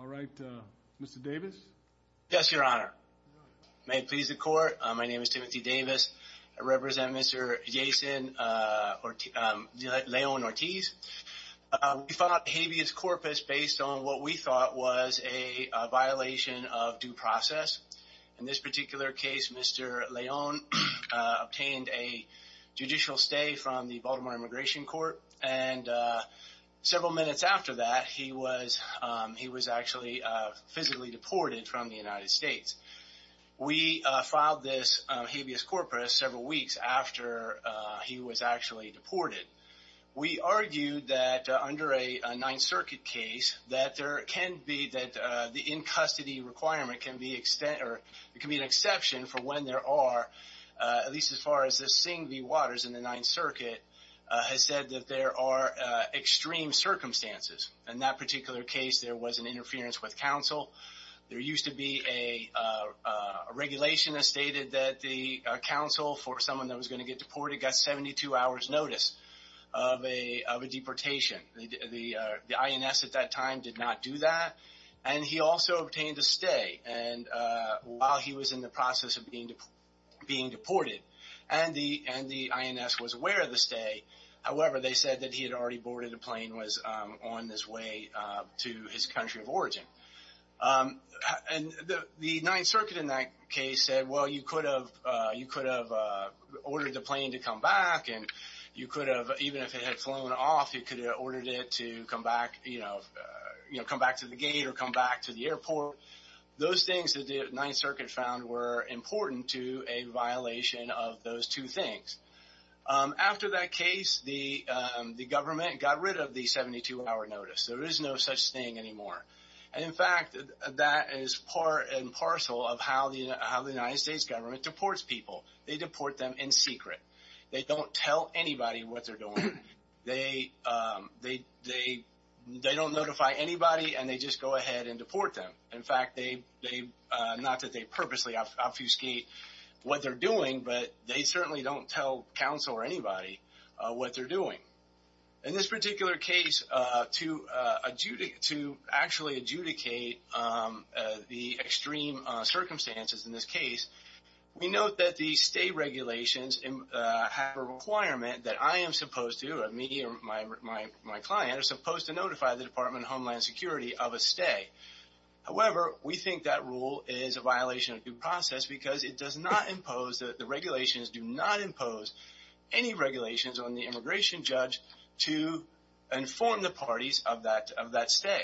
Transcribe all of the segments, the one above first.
All right, Mr. Davis. Yes, Your Honor. May it please the court, my name is Timothy Davis. I represent Mr. Jason Leon Ortiz. We found out habeas corpus based on what we thought was a violation of due process. In this particular case, Mr. Leon obtained a judicial stay from the Baltimore Immigration Court. And several minutes after that, he was actually physically deported from the United States. We filed this habeas corpus several weeks after he was actually deported. We argued that under a Ninth Circuit case, that there can be, that the in-custody requirement can be an exception for when there are, at least as far as the Sing v. Waters in the Ninth Circuit, has said that there are extreme circumstances. In that particular case, there was an interference with counsel. There used to be a regulation that stated that the counsel for someone that was gonna get deported got 72 hours notice of a deportation. The INS at that time did not do that. And he also obtained a stay and while he was in the process of being deported, and the INS was aware of the stay, however, they said that he had already boarded a plane, was on his way to his country of origin. And the Ninth Circuit in that case said, well, you could have ordered the plane to come back and you could have, even if it had flown off, you could have ordered it to come back to the gate or come back to the airport. Those things that the Ninth Circuit found were important to a violation of those two things. After that case, the government got rid of the 72 hour notice. There is no such thing anymore. And in fact, that is part and parcel of how the United States government deports people. They deport them in secret. They don't tell anybody what they're doing. They don't notify anybody and they just go ahead and deport them. In fact, not that they purposely obfuscate what they're doing, but they certainly don't tell counsel or anybody what they're doing. In this particular case, to actually adjudicate the extreme circumstances in this case, we note that the stay regulations have a requirement that I am supposed to, the Department of Homeland Security of a stay. However, we think that rule is a violation of due process because it does not impose, the regulations do not impose any regulations on the immigration judge to inform the parties of that stay.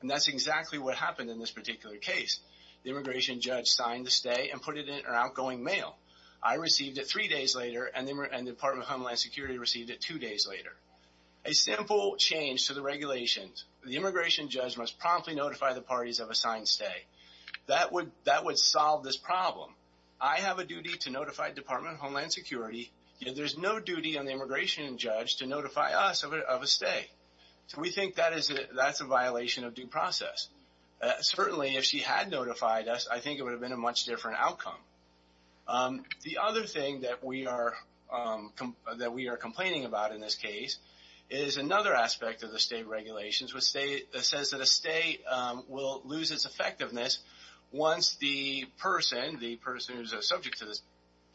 And that's exactly what happened in this particular case. The immigration judge signed the stay and put it in an outgoing mail. I received it three days later and the Department of Homeland Security received it two days later. A simple change to the regulations, the immigration judge must promptly notify the parties of a signed stay. That would solve this problem. I have a duty to notify Department of Homeland Security, yet there's no duty on the immigration judge to notify us of a stay. So we think that's a violation of due process. Certainly if she had notified us, I think it would have been a much different outcome. The other thing that we are complaining about in this case is another aspect of the state regulations which says that a stay will lose its effectiveness once the person, the person who's a subject to this,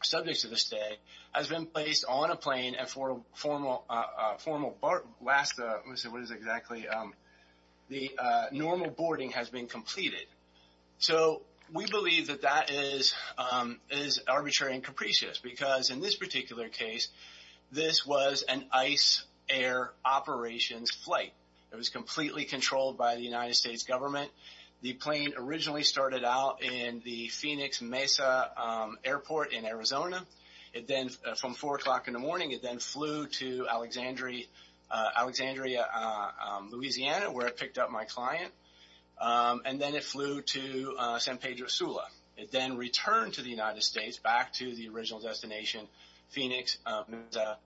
subject to the stay has been placed on a plane and for a formal, last, what is it exactly? The normal boarding has been completed. So we believe that that is arbitrary and capricious because in this particular case, this was an ice air operations flight. It was completely controlled by the United States government. The plane originally started out in the Phoenix Mesa Airport in Arizona. It then, from four o'clock in the morning, it then flew to Alexandria, Louisiana, where it picked up my client. And then it flew to San Pedro Sula. It then returned to the United States back to the original destination, Phoenix Mesa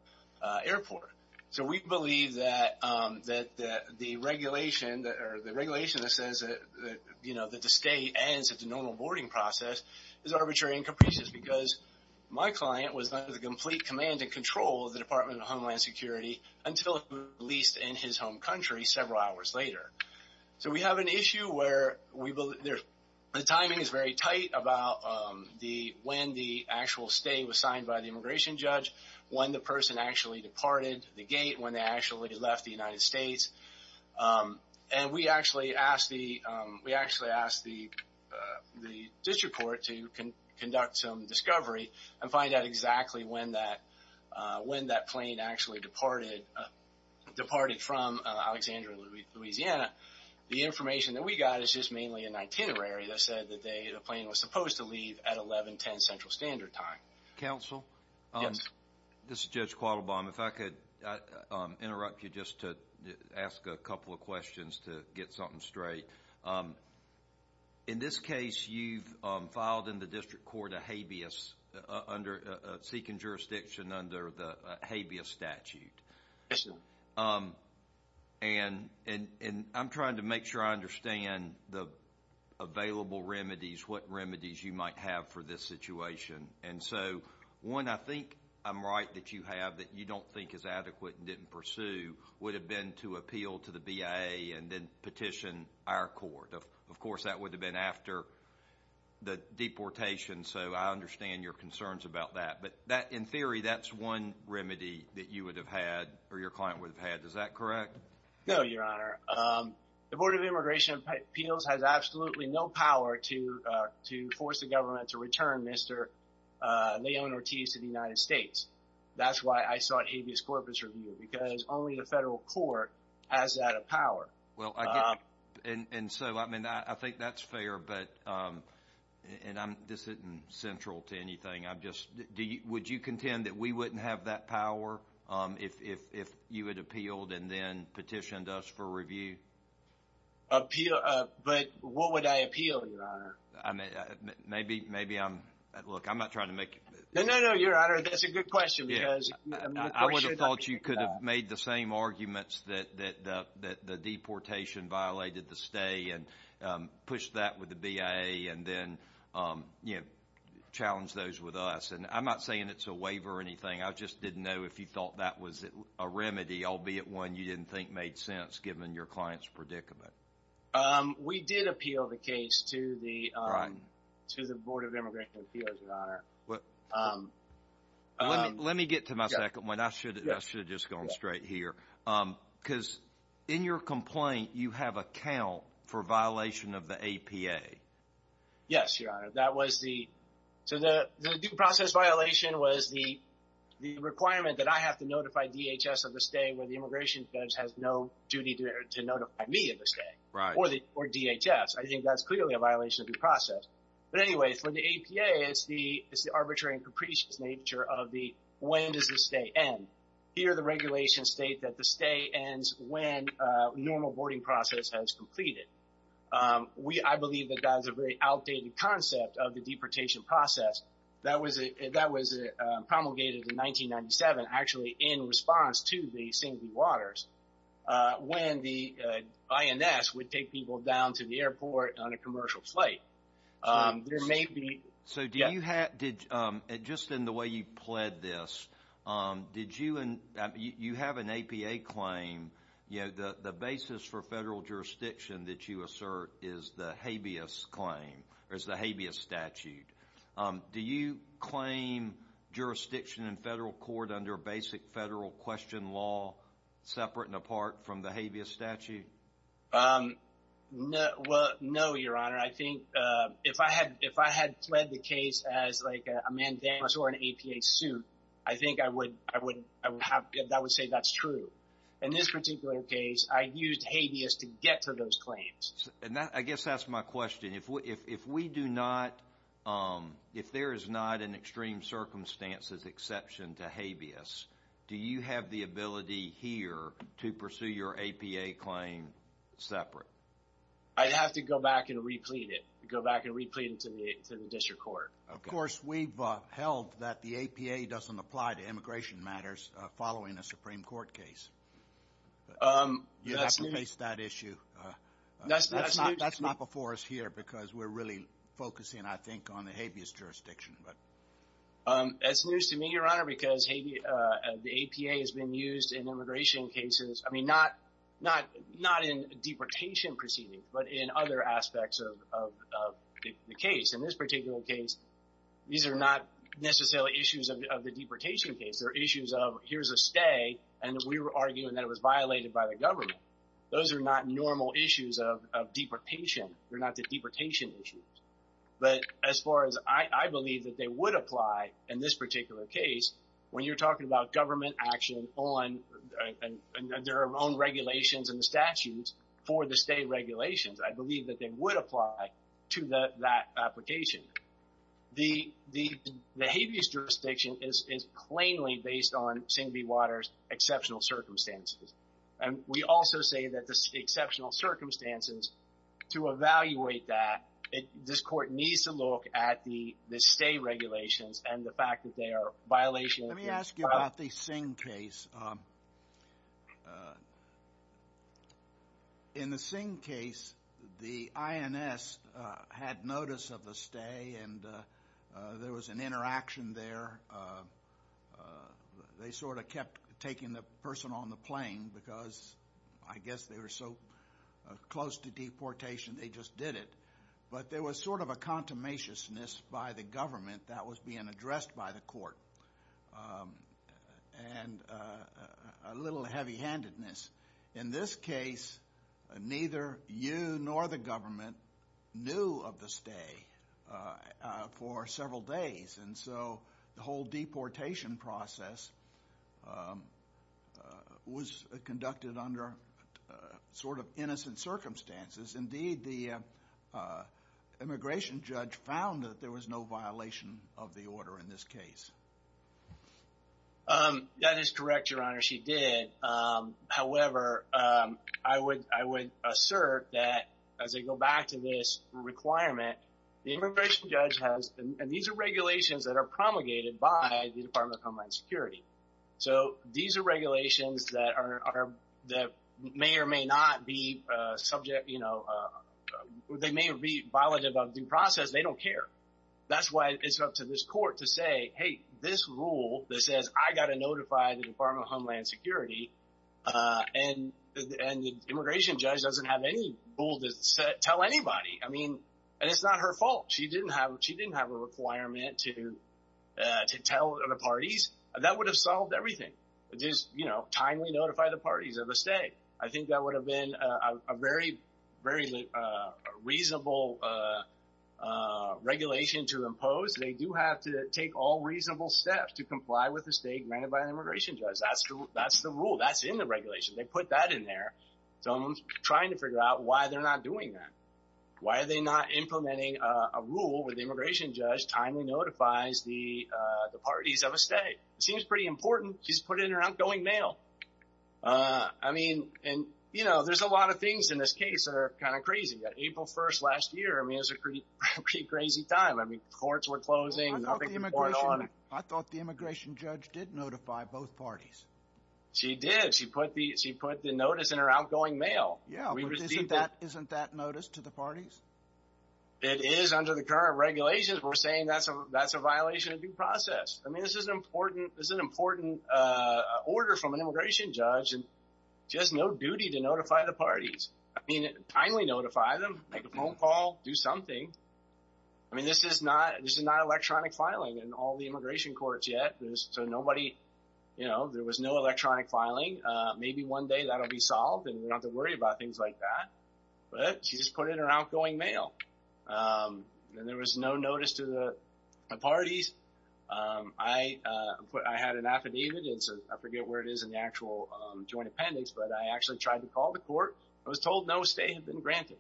Airport. So we believe that the regulation that says that the stay ends at the normal boarding process is arbitrary and capricious because my client was under the complete command and control of the Department of Homeland Security until he was released in his home country several hours later. So we have an issue where the timing is very tight about when the actual stay was signed by the immigration judge, when the person actually departed the gate, when they actually left the United States. And we actually asked the district court to conduct some discovery and find out exactly when that plane actually departed from Alexandria, Louisiana. The information that we got is just mainly an itinerary that said that the plane was supposed to leave at 11.10 Central Standard Time. Counsel? Yes. This is Judge Quattlebaum. If I could interrupt you just to ask a couple of questions to get something straight. In this case, you've filed in the district court a habeas, a seeking jurisdiction under the habeas statute. Yes, sir. And I'm trying to make sure I understand the available remedies, what remedies you might have for this situation. And so one, I think I'm right that you have that you don't think is adequate and didn't pursue would have been to appeal to the BIA and then petition our court. Of course, that would have been after the deportation. So I understand your concerns about that. But in theory, that's one remedy that you would have had or your client would have had. Is that correct? No, Your Honor. The Board of Immigration Appeals has absolutely no power to force the government to return Mr. Leon Ortiz to the United States. That's why I sought habeas corpus review because only the federal court has that power. Well, and so, I mean, I think that's fair, but, and this isn't central to anything, I'm just, would you contend that we wouldn't have that power if you had appealed and then petitioned us for review? But what would I appeal, Your Honor? I mean, maybe I'm, look, I'm not trying to make it. No, no, no, Your Honor, that's a good question because I'm not sure that I can get that. I would have thought you could have made the same arguments that the deportation violated the stay and pushed that with the BIA and then challenged those with us. And I'm not saying it's a waiver or anything. I just didn't know if you thought that was a remedy, albeit one you didn't think made sense given your client's predicament. We did appeal the case to the Board of Immigration Appeals, Your Honor. Let me get to my second one. I should have just gone straight here because in your complaint, you have a count for violation of the APA. Yes, Your Honor. That was the, so the due process violation was the requirement that I have to notify DHS of the stay where the immigration judge has no duty to notify me of the stay or DHS. I think that's clearly a violation of the process. But anyway, for the APA, it's the arbitrary and capricious nature of the, when does the stay end? Here, the regulations state that the stay ends when a normal boarding process has completed. I believe that that is a very outdated concept of the deportation process. That was promulgated in 1997, actually in response to the Singley Waters when the INS would take people down to the airport on a commercial flight. There may be. So do you have, did, just in the way you pled this, did you, you have an APA claim, you know, the basis for federal jurisdiction that you assert is the habeas claim or is the habeas statute. Do you claim jurisdiction in federal court under basic federal question law, separate and apart from the habeas statute? No, well, no, Your Honor. I think if I had, if I had pled the case as like a mandamus or an APA suit, I think I would, I would have, I would say that's true. In this particular case, I used habeas to get to those claims. And that, I guess that's my question. If we, if we do not, if there is not an extreme circumstances exception to habeas, do you have the ability here to pursue your APA claim separate? I'd have to go back and replete it, go back and replete it to the district court. Of course, we've held that the APA doesn't apply to immigration matters following a Supreme Court case. You have to face that issue. That's not before us here because we're really focusing, I think, on the habeas jurisdiction. That's news to me, Your Honor, because the APA has been used in immigration cases. I mean, not in deportation proceedings, but in other aspects of the case. In this particular case, these are not necessarily issues of the deportation case. There are issues of here's a stay and we were arguing that it was violated by the government. Those are not normal issues of deportation. They're not the deportation issues. But as far as I believe that they would apply in this particular case, when you're talking about government action on their own regulations and the statutes for the state regulations, I believe that they would apply to that application. The habeas jurisdiction is plainly based on Singh B. Waters exceptional circumstances. And we also say that the exceptional circumstances to evaluate that, this court needs to look at the stay regulations and the fact that they are violation. Let me ask you about the Singh case. In the Singh case, the INS had notice of the stay and there was an interaction there. They sort of kept taking the person on the plane because I guess they were so close to deportation, they just did it. But there was sort of a contumaciousness by the government that was being addressed by the court and a little heavy handedness. In this case, neither you nor the government knew of the stay for several days. And so the whole deportation process was conducted under sort of innocent circumstances. Indeed, the immigration judge found that there was no violation of the order in this case. That is correct, Your Honor. She did. However, I would assert that as I go back to this requirement, the immigration judge has, and these are regulations that are promulgated by the Department of Homeland Security. So these are regulations that may or may not be subject, they may be violative of due process. They don't care. That's why it's up to this court to say, hey, this rule that says I got to notify the Department of Homeland Security and the immigration judge doesn't have any rule to tell anybody. I mean, and it's not her fault. She didn't have a requirement to tell the parties. That would have solved everything. Just timely notify the parties of a stay. I think that would have been a very, very reasonable regulation to impose. They do have to take all reasonable steps to comply with the state granted by an immigration judge. That's the rule. That's in the regulation. They put that in there. So I'm trying to figure out why they're not doing that. Why are they not implementing a rule where the immigration judge timely notifies the parties of a stay? It seems pretty important. She's put it in her outgoing mail. I mean, and, you know, there's a lot of things in this case that are kind of crazy. April 1st last year, I mean, it was a pretty crazy time. I mean, courts were closing. I thought the immigration judge did notify both parties. She did. She put the notice in her outgoing mail. Yeah, but isn't that notice to the parties? It is under the current regulations. We're saying that's a violation of due process. I mean, this is an important order from an immigration judge. And she has no duty to notify the parties. I mean, timely notify them, make a phone call, do something. I mean, this is not electronic filing in all the immigration courts yet. So nobody, you know, there was no electronic filing. Maybe one day that'll be solved and we don't have to worry about things like that. But she just put it in her outgoing mail. And there was no notice to the parties. I put, I had an affidavit. And so I forget where it is in the actual joint appendix, but I actually tried to call the court. I was told no stay had been granted.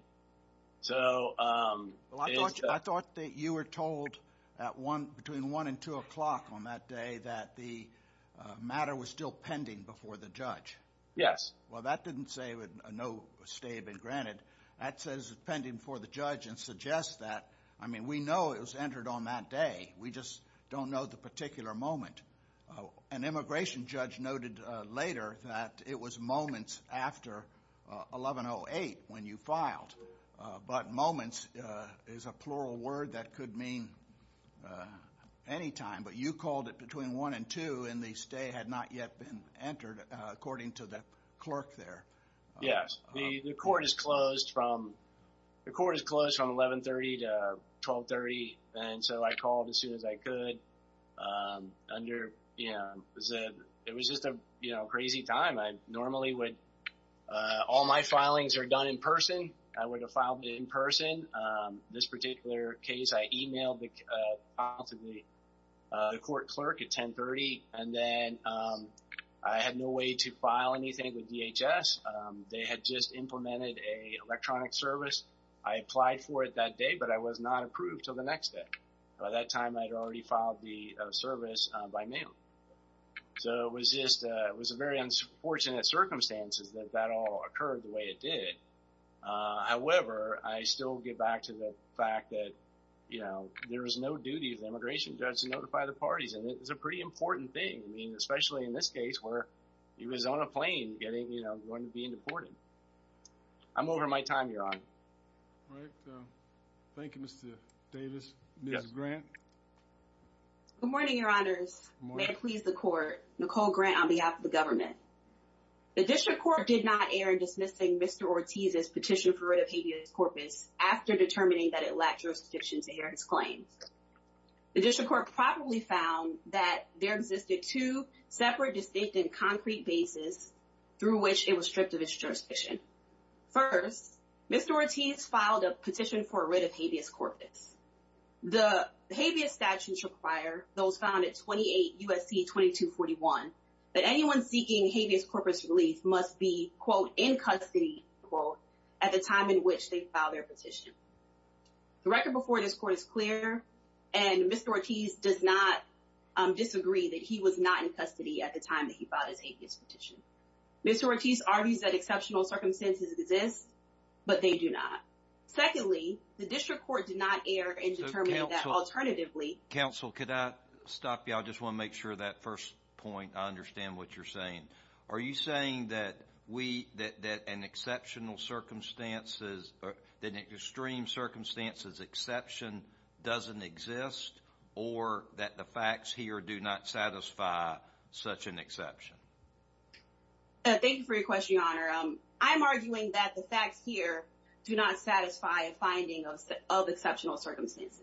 So... I thought that you were told at one, between one and two o'clock on that day that the matter was still pending before the judge. Yes. Well, that didn't say no stay had been granted. That says it's pending before the judge and suggests that. I mean, we know it was entered on that day. We just don't know the particular moment. An immigration judge noted later that it was moments after 1108 when you filed. But moments is a plural word that could mean anytime. But you called it between one and two and the stay had not yet been entered according to the clerk there. Yes. The court is closed from 1130 to 1230. And so I called as soon as I could. It was just a crazy time. I normally would, all my filings are done in person. I would have filed in person. This particular case, I emailed the court clerk at 1030. And then I had no way to file anything with DHS. They had just implemented a electronic service. I applied for it that day, but I was not approved till the next day. By that time I'd already filed the service by mail. So it was just, it was a very unfortunate circumstances that that all occurred the way it did. However, I still get back to the fact that, you know, there was no duty of the immigration judge to notify the parties. And it was a pretty important thing. I mean, especially in this case where he was on a plane getting, you know, going to be deported. I'm over my time, Your Honor. All right. Thank you, Mr. Davis. Ms. Grant. Good morning, Your Honors. May it please the court. Nicole Grant on behalf of the government. The district court did not err in dismissing Mr. Ortiz's petition for rid of habeas corpus after determining that it lacked jurisdiction to hear his claims. The district court probably found that there existed two separate distinct concrete bases through which it was stripped of its jurisdiction. First, Mr. Ortiz filed a petition for a writ of habeas corpus. The habeas statutes require those found at 28 U.S.C. 2241 that anyone seeking habeas corpus relief must be, quote, in custody, quote, at the time in which they filed their petition. The record before this court is clear. And Mr. Ortiz does not disagree that he was not in custody at the time that he filed his habeas petition. Mr. Ortiz argues that exceptional circumstances exist, but they do not. Secondly, the district court did not err in determining that alternatively. Counsel, could I stop you? I just want to make sure that first point, I understand what you're saying. Are you saying that we, that an exceptional circumstances, that extreme circumstances exception doesn't exist or that the facts here do not satisfy such an exception? Thank you for your question, Your Honor. I'm arguing that the facts here do not satisfy a finding of exceptional circumstances.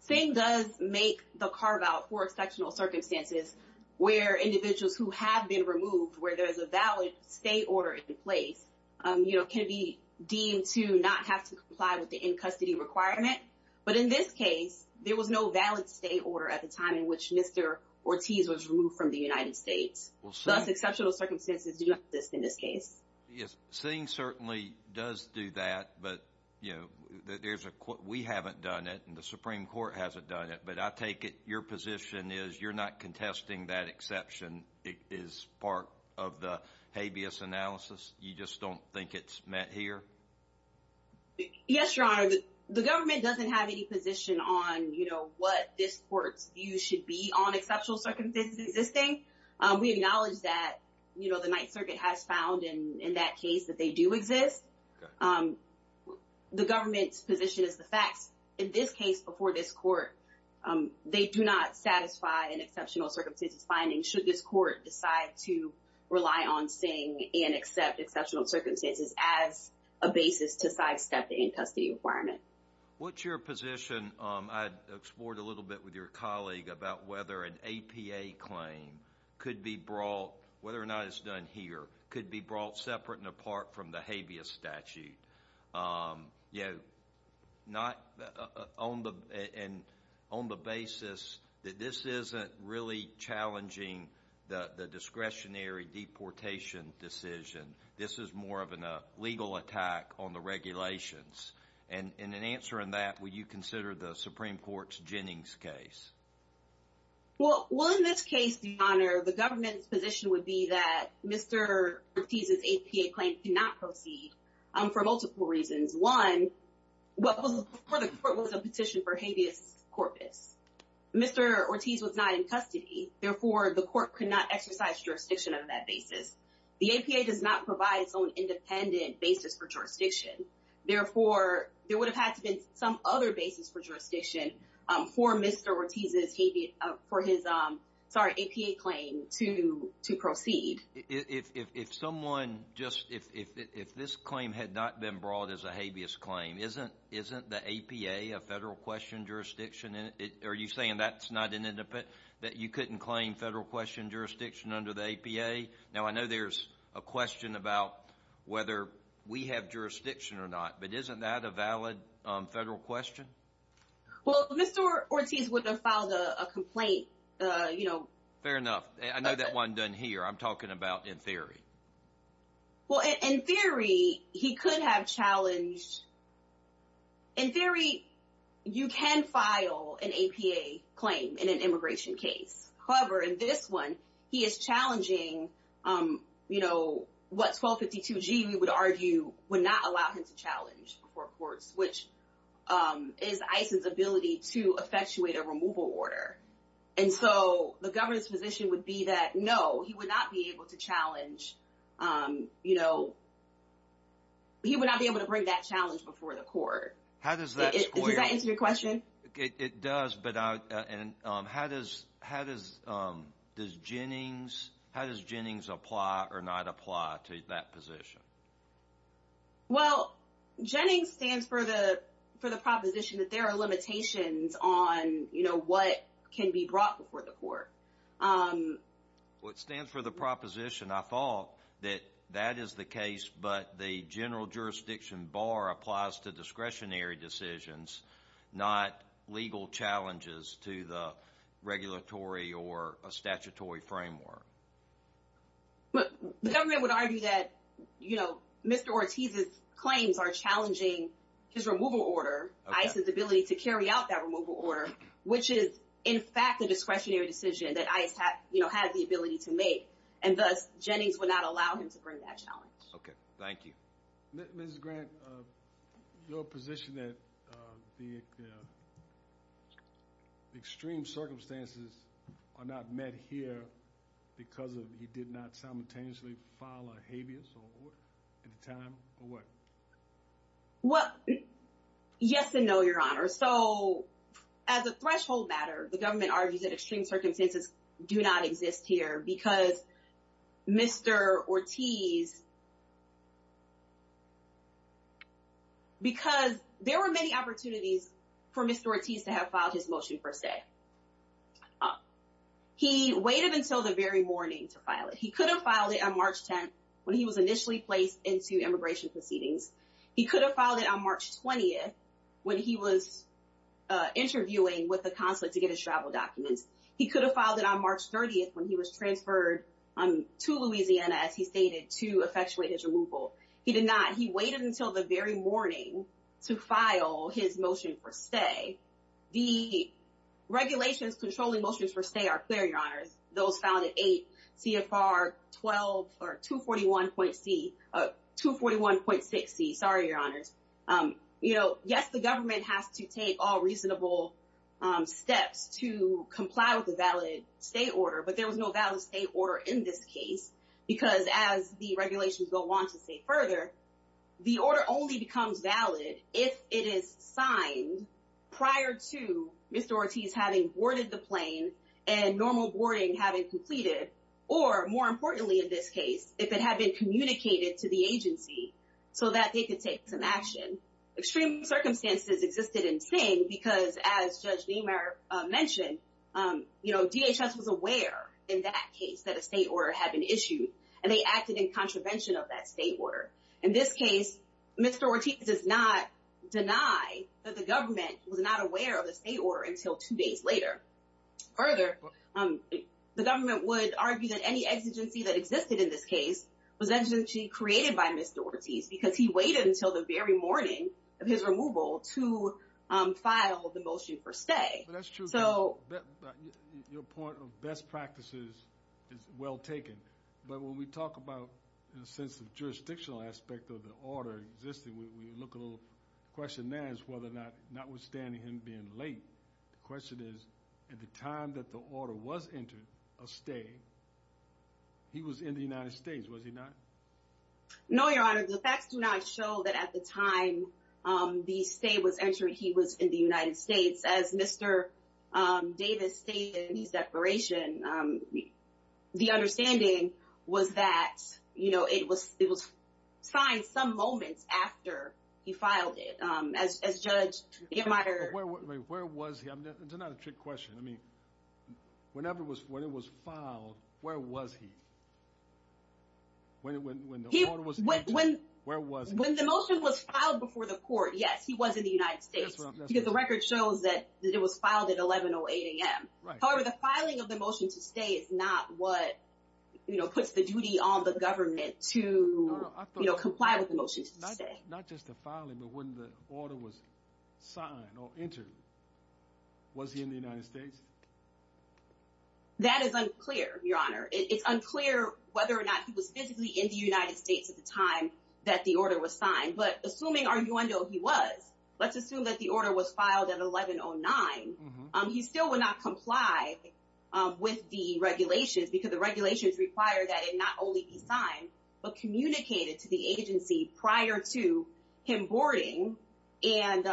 Same does make the carve out for exceptional circumstances where individuals who have been removed, where there's a valid state order in place, you know, can be deemed to not have to comply with the in custody requirement. But in this case, there was no valid state order at the time in which Mr. Ortiz was removed from the United States. Thus, exceptional circumstances do not exist in this case. Yes, seeing certainly does do that. But, you know, we haven't done it and the Supreme Court hasn't done it, but I take it your position is you're not contesting that exception. It is part of the habeas analysis. You just don't think it's met here? Yes, Your Honor. The government doesn't have any position on, you know, what this court's view should be on exceptional circumstances existing. We acknowledge that, you know, the Ninth Circuit has found in that case that they do exist. The government's position is the facts. In this case, before this court, they do not satisfy an exceptional circumstances finding should this court decide to rely on seeing and accept exceptional circumstances as a basis to sidestep the in-custody requirement. What's your position? I explored a little bit with your colleague about whether an APA claim could be brought, whether or not it's done here, could be brought separate and apart from the habeas statute. You know, not on the basis that this isn't really challenging the discretionary deportation decision. This is more of a legal attack on the regulations. And in answering that, would you consider the Supreme Court's Jennings case? Well, in this case, Your Honor, the government's position would be that Mr. Ortiz's APA claim cannot proceed for multiple reasons. One, before the court was a petition for habeas corpus, Mr. Ortiz was not in custody. Therefore, the court could not exercise jurisdiction on that basis. The APA does not provide its own independent basis for jurisdiction. Therefore, there would have had to be some other basis for jurisdiction for Mr. Ortiz's habeas, for his, sorry, APA claim to proceed. If someone just, if this claim had not been brought as a habeas claim, isn't the APA a federal question jurisdiction? And are you saying that's not an independent, that you couldn't claim federal question jurisdiction under the APA? Now, I know there's a question about whether we have jurisdiction or not, but isn't that a valid federal question? Well, Mr. Ortiz wouldn't have filed a complaint, you know. Fair enough. I know that wasn't done here. I'm talking about in theory. Well, in theory, he could have challenged, in theory, you can file an APA claim in an immigration case. However, in this one, he is challenging, you know, what 1252G, we would argue, would not allow him to challenge before courts, which is ICE's ability to effectuate a removal order. And so the governor's position would be that, no, he would not be able to challenge, you know, he would not be able to bring that challenge before the court. How does that square? Does that answer your question? It does. And how does Jennings apply or not apply to that position? Well, Jennings stands for the proposition that there are limitations on, you know, what can be brought before the court. Well, it stands for the proposition, I thought, that that is the case, but the general jurisdiction bar applies to discretionary decisions, not legal challenges to the regulatory or a statutory framework. But the government would argue that, you know, Mr. Ortiz's claims are challenging his removal order, ICE's ability to carry out that removal order, which is, in fact, a discretionary decision that ICE, you know, has the ability to make. And thus, Jennings would not allow him to bring that challenge. Okay, thank you. Mrs. Grant, your position that the extreme circumstances are not met here because he did not simultaneously file a habeas at the time or what? Well, yes and no, Your Honor. So as a threshold matter, the government argues that extreme circumstances do not exist here because Mr. Ortiz, because there were many opportunities for Mr. Ortiz to have filed his motion per se. He waited until the very morning to file it. He could have filed it on March 10th when he was initially placed into immigration proceedings. He could have filed it on March 20th when he was interviewing with the consulate to get his travel documents. He could have filed it on March 30th when he was transferred to Louisiana, as he stated, to a federal consulate to effectuate his removal. He did not. He waited until the very morning to file his motion per se. The regulations controlling motions per se are clear, Your Honors. Those found at 8 CFR 12 or 241.6C. Sorry, Your Honors. Yes, the government has to take all reasonable steps to comply with the valid state order, but there was no valid state order in this case because as the regulations go on to say further, the order only becomes valid if it is signed prior to Mr. Ortiz having boarded the plane and normal boarding having completed, or more importantly in this case, if it had been communicated to the agency so that they could take some action. Extreme circumstances existed in Sing because as Judge Niemeyer mentioned, you know, DHS was aware in that case that a state order had been issued and they acted in contravention of that state order. In this case, Mr. Ortiz does not deny that the government was not aware of the state order until two days later. Further, the government would argue that any exigency that existed in this case was actually created by Mr. Ortiz because he waited until the very morning of his removal to file the motion per se. But that's true. But your point of best practices is well taken. But when we talk about, in a sense of jurisdictional aspect of the order existing, we look a little question there is whether or not, notwithstanding him being late, the question is, at the time that the order was entered, a stay, he was in the United States, was he not? No, Your Honor. The facts do not show that at the time the stay was entered, he was in the United States as Mr. Davis stated in his declaration. The understanding was that, you know, it was signed some moments after he filed it, as Judge Gittmeier... Where was he? I mean, it's not a trick question. I mean, whenever it was, when it was filed, where was he? When the motion was filed before the court, yes, he was in the United States because the record shows that it was filed at 11 or 8 a.m. However, the filing of the motion to stay is not what, you know, puts the duty on the government to, you know, comply with the motion to stay. Not just the filing, but when the order was signed or entered, was he in the United States? That is unclear, Your Honor. It's unclear whether or not he was physically in the United States at the time that the order was signed. But assuming, arguendo, he was, let's assume that the order was filed at 11 or 9, he still would not comply with the regulations because the regulations require that it not only be signed, but communicated to the agency prior to him boarding and,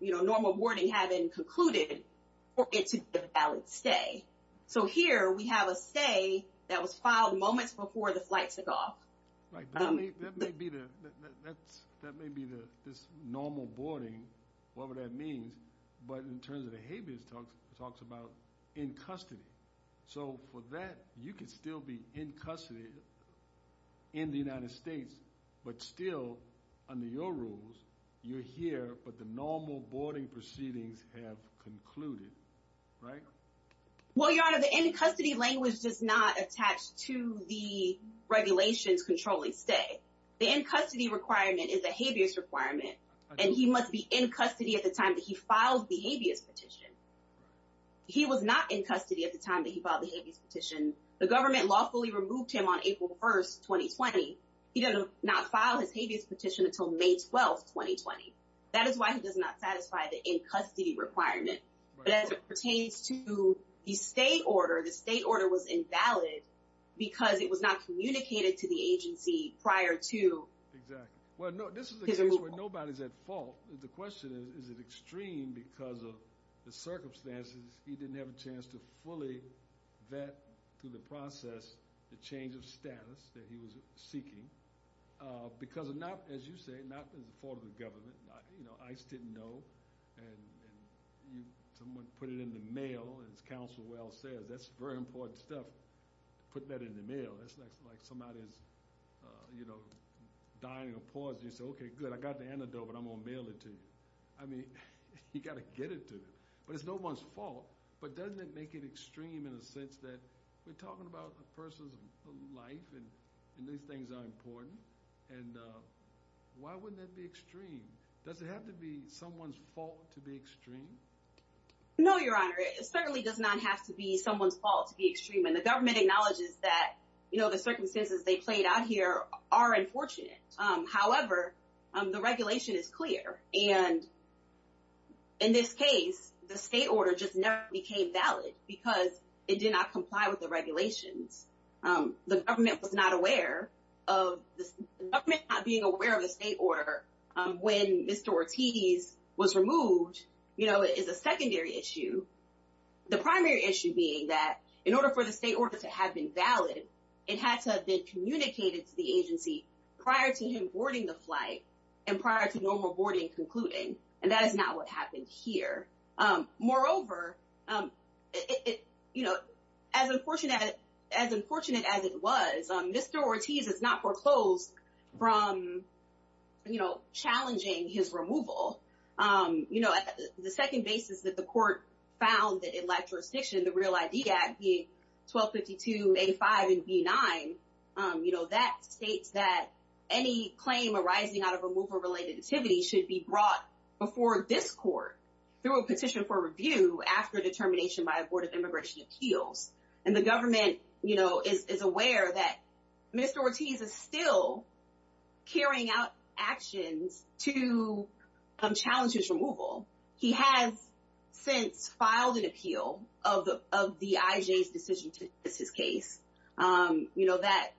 you know, normal boarding having concluded for it to be a valid stay. So here we have a stay that was filed moments before the flight took off. Right. That may be the, that may be the, this normal boarding, whatever that means, but in terms of the habeas talks about in custody. So for that, you could still be in custody in the United States, but still under your rules, you're here, but the normal boarding proceedings have concluded, right? Well, Your Honor, the in-custody language does not attach to the regulations controlling stay. The in-custody requirement is a habeas requirement and he must be in custody at the time that he filed the habeas petition. He was not in custody at the time that he filed the habeas petition. The government lawfully removed him on April 1st, 2020. He did not file his habeas petition until May 12th, 2020. That is why he does not satisfy the in-custody requirement. But as it pertains to the stay order, the stay order was invalid because it was not communicated to the agency prior to. Exactly. Well, no, this is a case where nobody's at fault. The question is, is it extreme because of the circumstances he didn't have a chance to fully vet through the process the change of status that he was seeking? Because of not, as you say, not the fault of the government, you know, ICE didn't know. And someone put it in the mail, as Counselor Wells says, that's very important stuff to put that in the mail. It's like somebody's, you know, dying or pausing. You say, okay, good. I got the antidote, but I'm going to mail it to you. I mean, you got to get it to them. But it's no one's fault. But doesn't it make it extreme in a sense that we're talking about a person's life and these things are important. And why wouldn't that be extreme? Does it have to be someone's fault to be extreme? No, Your Honor. It certainly does not have to be someone's fault to be extreme. And the government acknowledges that, you know, the circumstances they played out here are unfortunate. However, the regulation is clear. And in this case, the state order just never became valid because it did not comply with the regulations. The government was not aware of this. The government not being aware of the state order when Mr. Ortiz was removed, you know, is a secondary issue. The primary issue being that in order for the state order to have been valid, it had to have been communicated to the agency prior to him boarding the flight and prior to normal boarding concluding. And that is not what happened here. Moreover, you know, as unfortunate as it was, Mr. Ortiz is not foreclosed from, you know, challenging his removal. You know, the second basis that the court found that electrorestriction, the Real ID Act, the 1252A5 and B9, you know, that states that any claim arising out of removal-related activity should be brought before this court through a petition for review after determination by a Board of Immigration Appeals. And the government, you know, is aware that Mr. Ortiz is still carrying out actions He has since filed an appeal of the IJ's decision to dismiss his case. You know, that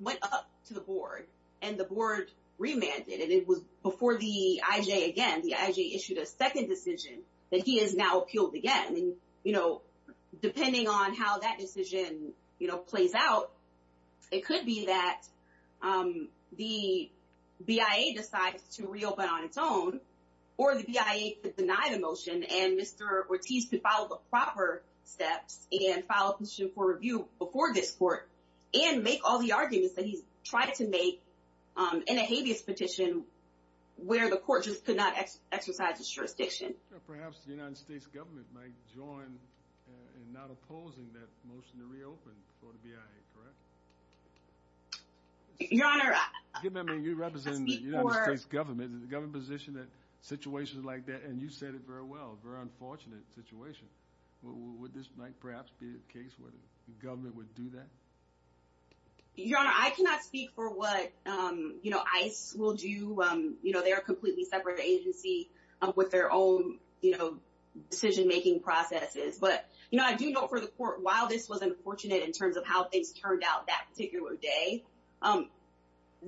went up to the Board and the Board remanded and it was before the IJ again, the IJ issued a second decision that he has now appealed again. And, you know, depending on how that decision, you know, plays out, it could be that the BIA decides to reopen on its own or the BIA could deny the motion and Mr. Ortiz could follow the proper steps and file a petition for review before this court and make all the arguments that he's tried to make in a habeas petition where the court just could not exercise the jurisdiction. Or perhaps the United States government might join in not opposing that motion to reopen for the BIA, correct? Your Honor, I speak for... I mean, you represent the United States government, the government position that situations like that, and you said it very well, very unfortunate situation. Would this might perhaps be the case where the government would do that? Your Honor, I cannot speak for what, you know, ICE will do. You know, they're a completely separate agency with their own, you know, decision-making processes. But, you know, I do know for the court, while this was unfortunate in terms of how things turned out that particular day,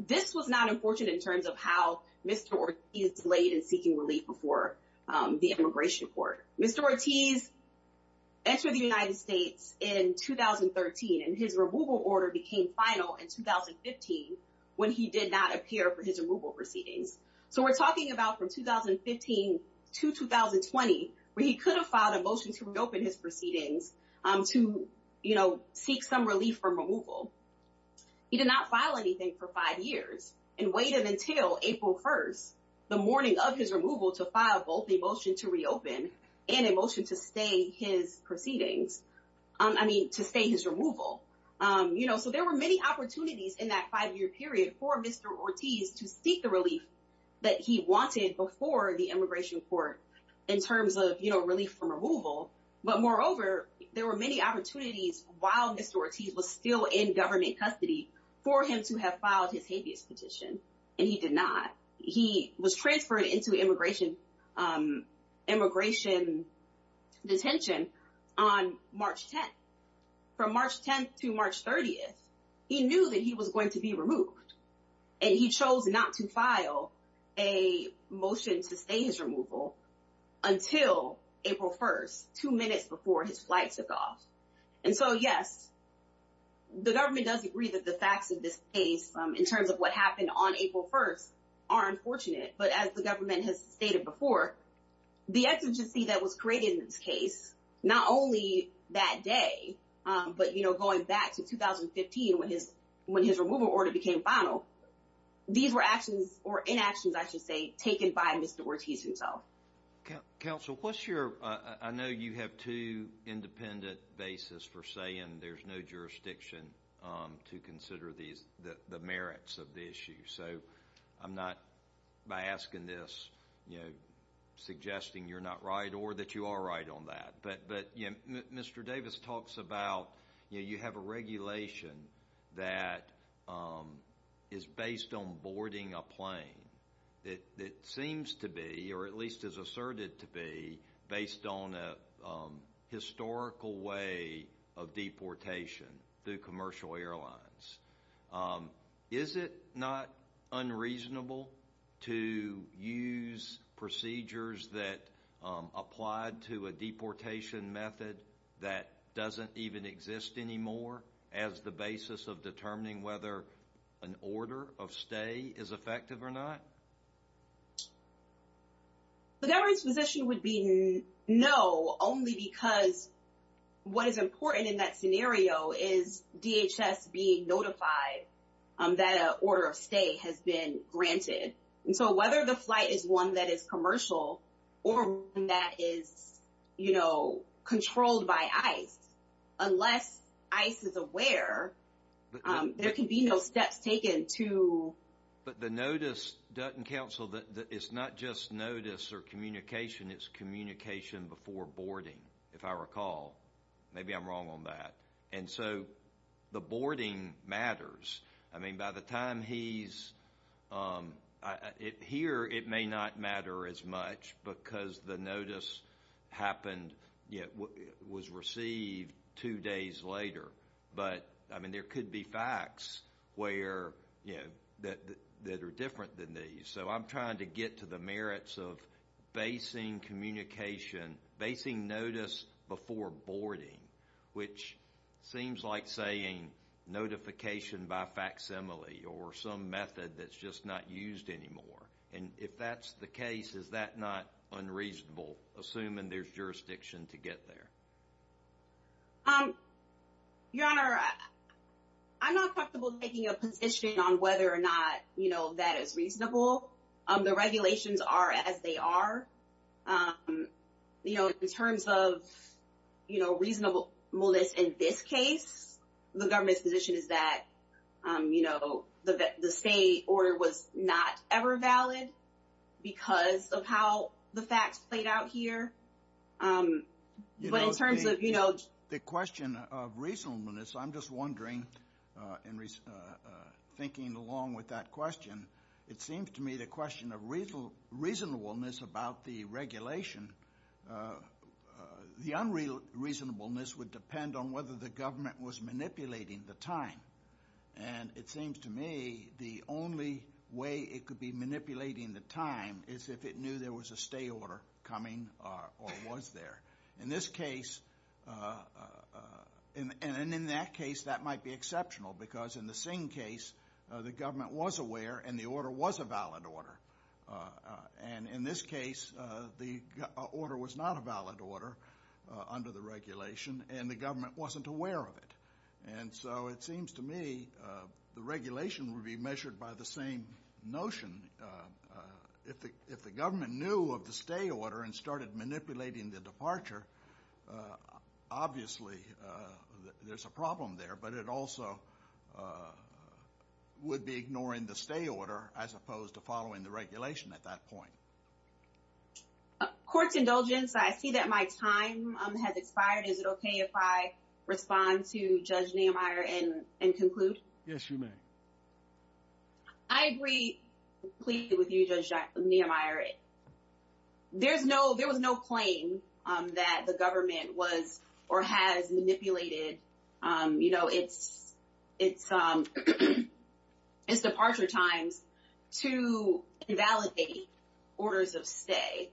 this was not unfortunate in terms of how Mr. Ortiz laid in seeking relief before the immigration court. Mr. Ortiz entered the United States in 2013, and his removal order became final in 2015 when he did not appear for his removal proceedings. So we're talking about from 2015 to 2020 where he could have filed a motion to reopen his proceedings to, you know, seek some relief from removal. He did not file anything for five years and waited until April 1st, the morning of his removal to file both a motion to reopen and a motion to stay his proceedings. I mean, to stay his removal. You know, so there were many opportunities in that five-year period for Mr. Ortiz to seek the relief that he wanted before the immigration court in terms of, you know, relief from removal. But moreover, there were many opportunities while Mr. Ortiz was still in government custody for him to have filed his habeas petition, and he did not. He was transferred into immigration detention on March 10th. From March 10th to March 30th, he knew that he was going to be removed. And he chose not to file a motion to stay his removal until April 1st, two minutes before his flight took off. And so, yes, the government does agree that the facts of this case in terms of what happened on April 1st are unfortunate. But as the government has stated before, the exigency that was created in this case, not only that day, but, you know, going back to 2015 when his removal order became final, these were actions or inactions, I should say, taken by Mr. Ortiz himself. Counsel, what's your, I know you have two independent bases for saying there's no jurisdiction to consider the merits of the issue. So I'm not, by asking this, you know, suggesting you're not right or that you are right on that. But, you know, Mr. Davis talks about, you know, you have a regulation that is based on boarding a plane. It seems to be, or at least is asserted to be, based on a historical way of deportation through commercial airlines. Is it not unreasonable to use procedures that applied to a deportation method that doesn't even exist anymore as the basis of determining whether an order of stay is effective or not? The government's position would be no, only because what is important in that scenario is DHS being notified that an order of stay has been granted. And so whether the flight is one that is commercial, or one that is, you know, controlled by ICE, unless ICE is aware, there can be no steps taken to... But the notice, Dutton Council, that it's not just notice or communication, it's communication before boarding, if I recall. Maybe I'm wrong on that. And so the boarding matters. I mean, by the time he's here, it may not matter as much because the notice happened, was received two days later. But, I mean, there could be facts that are different than these. So I'm trying to get to the merits of basing communication, basing notice before boarding, which seems like saying notification by facsimile or some method that's just not used anymore. And if that's the case, is that not unreasonable, assuming there's jurisdiction to get there? Um, Your Honor, I'm not comfortable taking a position on whether or not, you know, that is reasonable. The regulations are as they are. You know, in terms of, you know, reasonableness in this case, the government's position is that, you know, the state order was not ever valid because of how the facts played out here. Um, but in terms of, you know, the question of reasonableness, I'm just wondering, thinking along with that question, it seems to me the question of reasonable, reasonableness about the regulation, the unreasonableness would depend on whether the government was manipulating the time. And it seems to me the only way it could be manipulating the time is if it knew there was a stay order coming or was there. In this case, and in that case, that might be exceptional because in the Singh case, the government was aware and the order was a valid order. And in this case, the order was not a valid order under the regulation and the government wasn't aware of it. And so it seems to me the regulation would be measured by the same notion. If the government knew of the stay order and started manipulating the departure, obviously, there's a problem there, but it also would be ignoring the stay order as opposed to following the regulation at that point. Court's indulgence, I see that my time has expired. Is it OK if I respond to Judge Nehemiah and conclude? Yes, you may. I agree completely with you, Judge Nehemiah. There was no claim that the government was or has manipulated its departure times to invalidate orders of stay.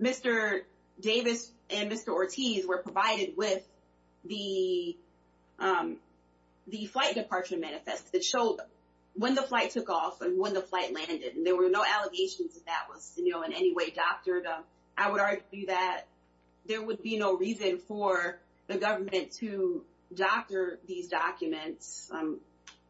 Mr. Davis and Mr. Ortiz were provided with the flight departure manifest that showed when the flight took off and when the flight landed. There were no allegations that that was in any way doctored. I would argue that there would be no reason for the government to doctor these documents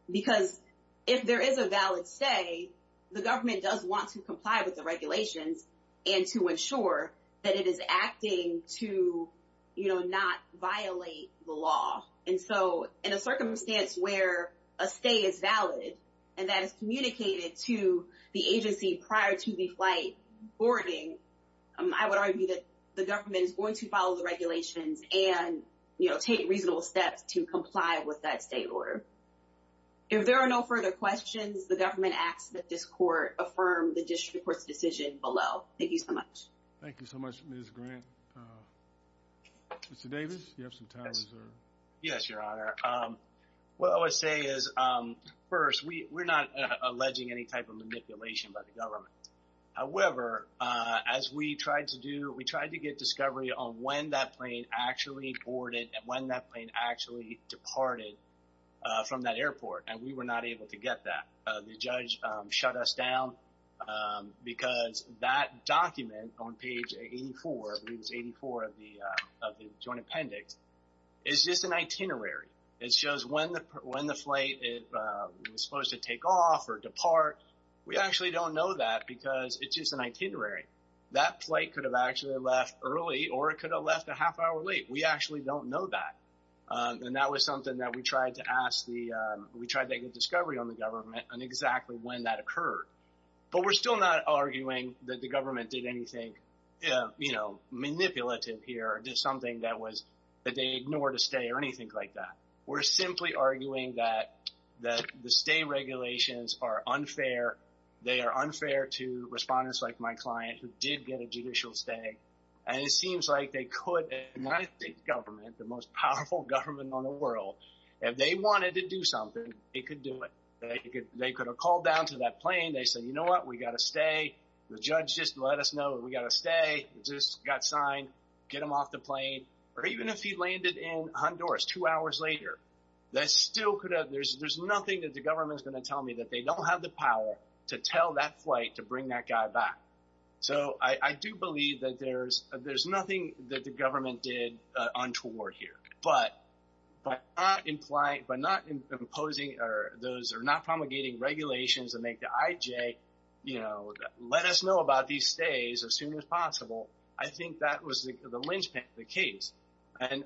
because if there is a valid stay, the government does want to comply with the regulations and to ensure that it is acting to not violate the law. And so in a circumstance where a stay is valid and that is communicated to the agency prior to the flight boarding, I would argue that the government is going to follow the regulations and take reasonable steps to comply with that stay order. If there are no further questions, the government asks that this court affirm the district court's decision below. Thank you so much. Thank you so much, Ms. Grant. Mr. Davis, you have some time reserved. Yes, Your Honor. What I would say is, first, we're not alleging any type of manipulation by the government. However, as we tried to do, we tried to get discovery on when that plane actually boarded and when that plane actually departed from that airport, and we were not able to get that. The judge shut us down because that document on page 84, I believe it's 84 of the joint appendix, is just an itinerary. It shows when the flight was supposed to take off or depart. We actually don't know that because it's just an itinerary. That flight could have actually left early or it could have left a half hour late. We actually don't know that. And that was something that we tried to ask the... We tried to get discovery on the government on exactly when that occurred. But we're still not arguing that the government did anything, you know, manipulative here or did something that was... that they ignored a stay or anything like that. We're simply arguing that the stay regulations are unfair. They are unfair to respondents like my client who did get a judicial stay. And it seems like they could, and I think government, the most powerful government on the world, if they wanted to do something, they could do it. They could have called down to that plane. They said, you know what? We got to stay. The judge just let us know we got to stay. It just got signed, get them off the plane. Or even if he landed in Honduras two hours later, that still could have... There's nothing that the government is going to tell me that they don't have the power to tell that flight to bring that guy back. So I do believe that there's nothing that the government did untoward here. But by not imposing or those are not promulgating regulations and make the IJ, you know, let us know about these stays as soon as possible. I think that was the linchpin of the case. And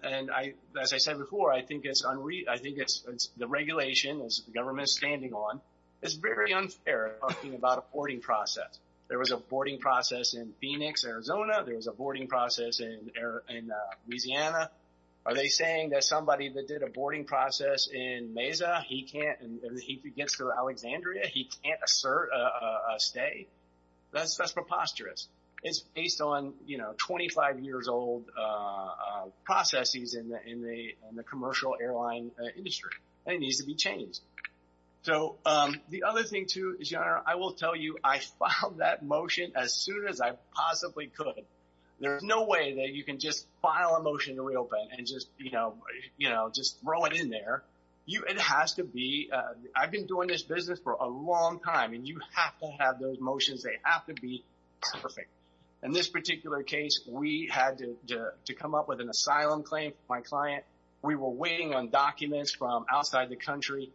as I said before, I think it's the regulation as the government is standing on, it's very unfair talking about a boarding process. There was a boarding process in Phoenix, Arizona. There was a boarding process in Louisiana. Are they saying that somebody that did a boarding process in Mesa, he can't, he gets to Alexandria, he can't assert a stay. That's preposterous. It's based on, you know, 25 years old processes in the commercial airline industry. And it needs to be changed. So the other thing too is, your honor, I will tell you, I filed that motion as soon as I possibly could. There's no way that you can just file a motion to reopen and just, you know, just throw it in there. It has to be, I've been doing this business for a long time and you have to have those motions. They have to be perfect. In this particular case, we had to come up with an asylum claim. My client, we were waiting on documents from outside the country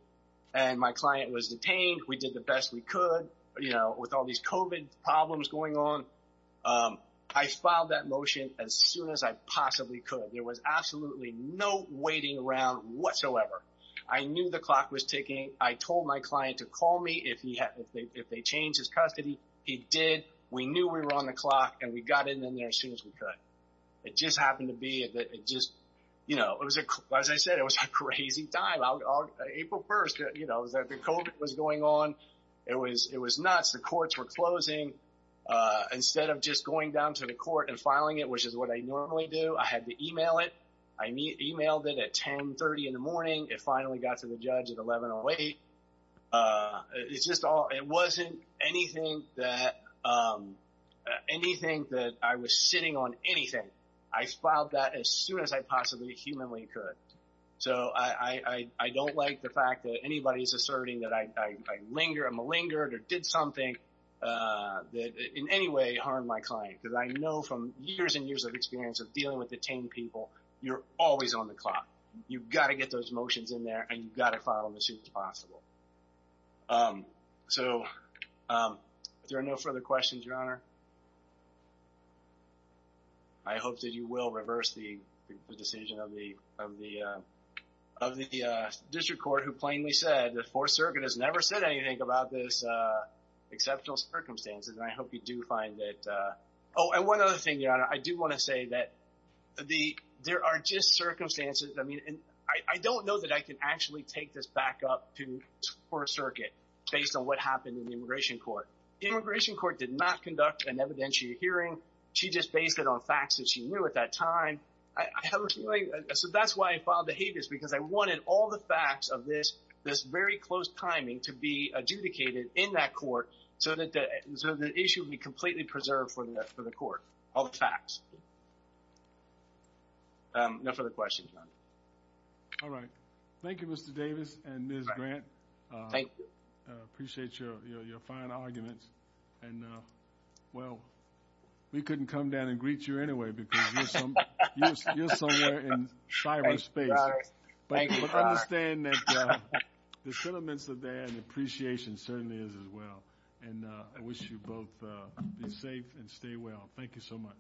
and my client was detained. We did the best we could, you know, with all these COVID problems going on. I filed that motion as soon as I possibly could. There was absolutely no waiting around whatsoever. I knew the clock was ticking. I told my client to call me if they changed his custody. He did. We knew we were on the clock and we got in there as soon as we could. It just happened to be that it just, you know, it was, as I said, it was a crazy time. April 1st, you know, the COVID was going on. It was nuts. The courts were closing instead of just going down to the court and filing it, which is what I normally do. I had to email it. I emailed it at 1030 in the morning. It finally got to the judge at 1108. It's just all, it wasn't anything that, um, anything that I was sitting on anything. I filed that as soon as I possibly humanly could. So I, I, I don't like the fact that anybody's asserting that I, I, I linger and malingered or did something, uh, that in any way harmed my client. Cause I know from years and years of experience of dealing with detained people, you're always on the clock. You've got to get those motions in there and you've got to file them as soon as possible. Um, so, um, if there are no further questions, your honor, I hope that you will reverse the decision of the, of the, um, of the, uh, district court who plainly said the fourth circuit has never said anything about this, uh, exceptional circumstances. And I hope you do find that, uh, Oh, and one other thing, your honor, I do want to say that the, there are just circumstances. I mean, and I don't know that I can actually take this back up to fourth circuit based on what happened in the immigration court. Immigration court did not conduct an evidentiary hearing. She just based it on facts that she knew at that time. I have a feeling. So that's why I filed the habeas because I wanted all the facts of this, this very close timing to be adjudicated in that court so that the, so the issue would be completely preserved for the, for the court, all the facts. Um, no further questions. All right. Thank you, Mr. Davis and Ms. Grant. Thank you. Appreciate your, your, your fine arguments. And, uh, well, we couldn't come down and greet you anyway, because you're somewhere in cyber space, but I understand that the sentiments are there and the appreciation certainly is as well. And I wish you both be safe and stay well. Thank you so much.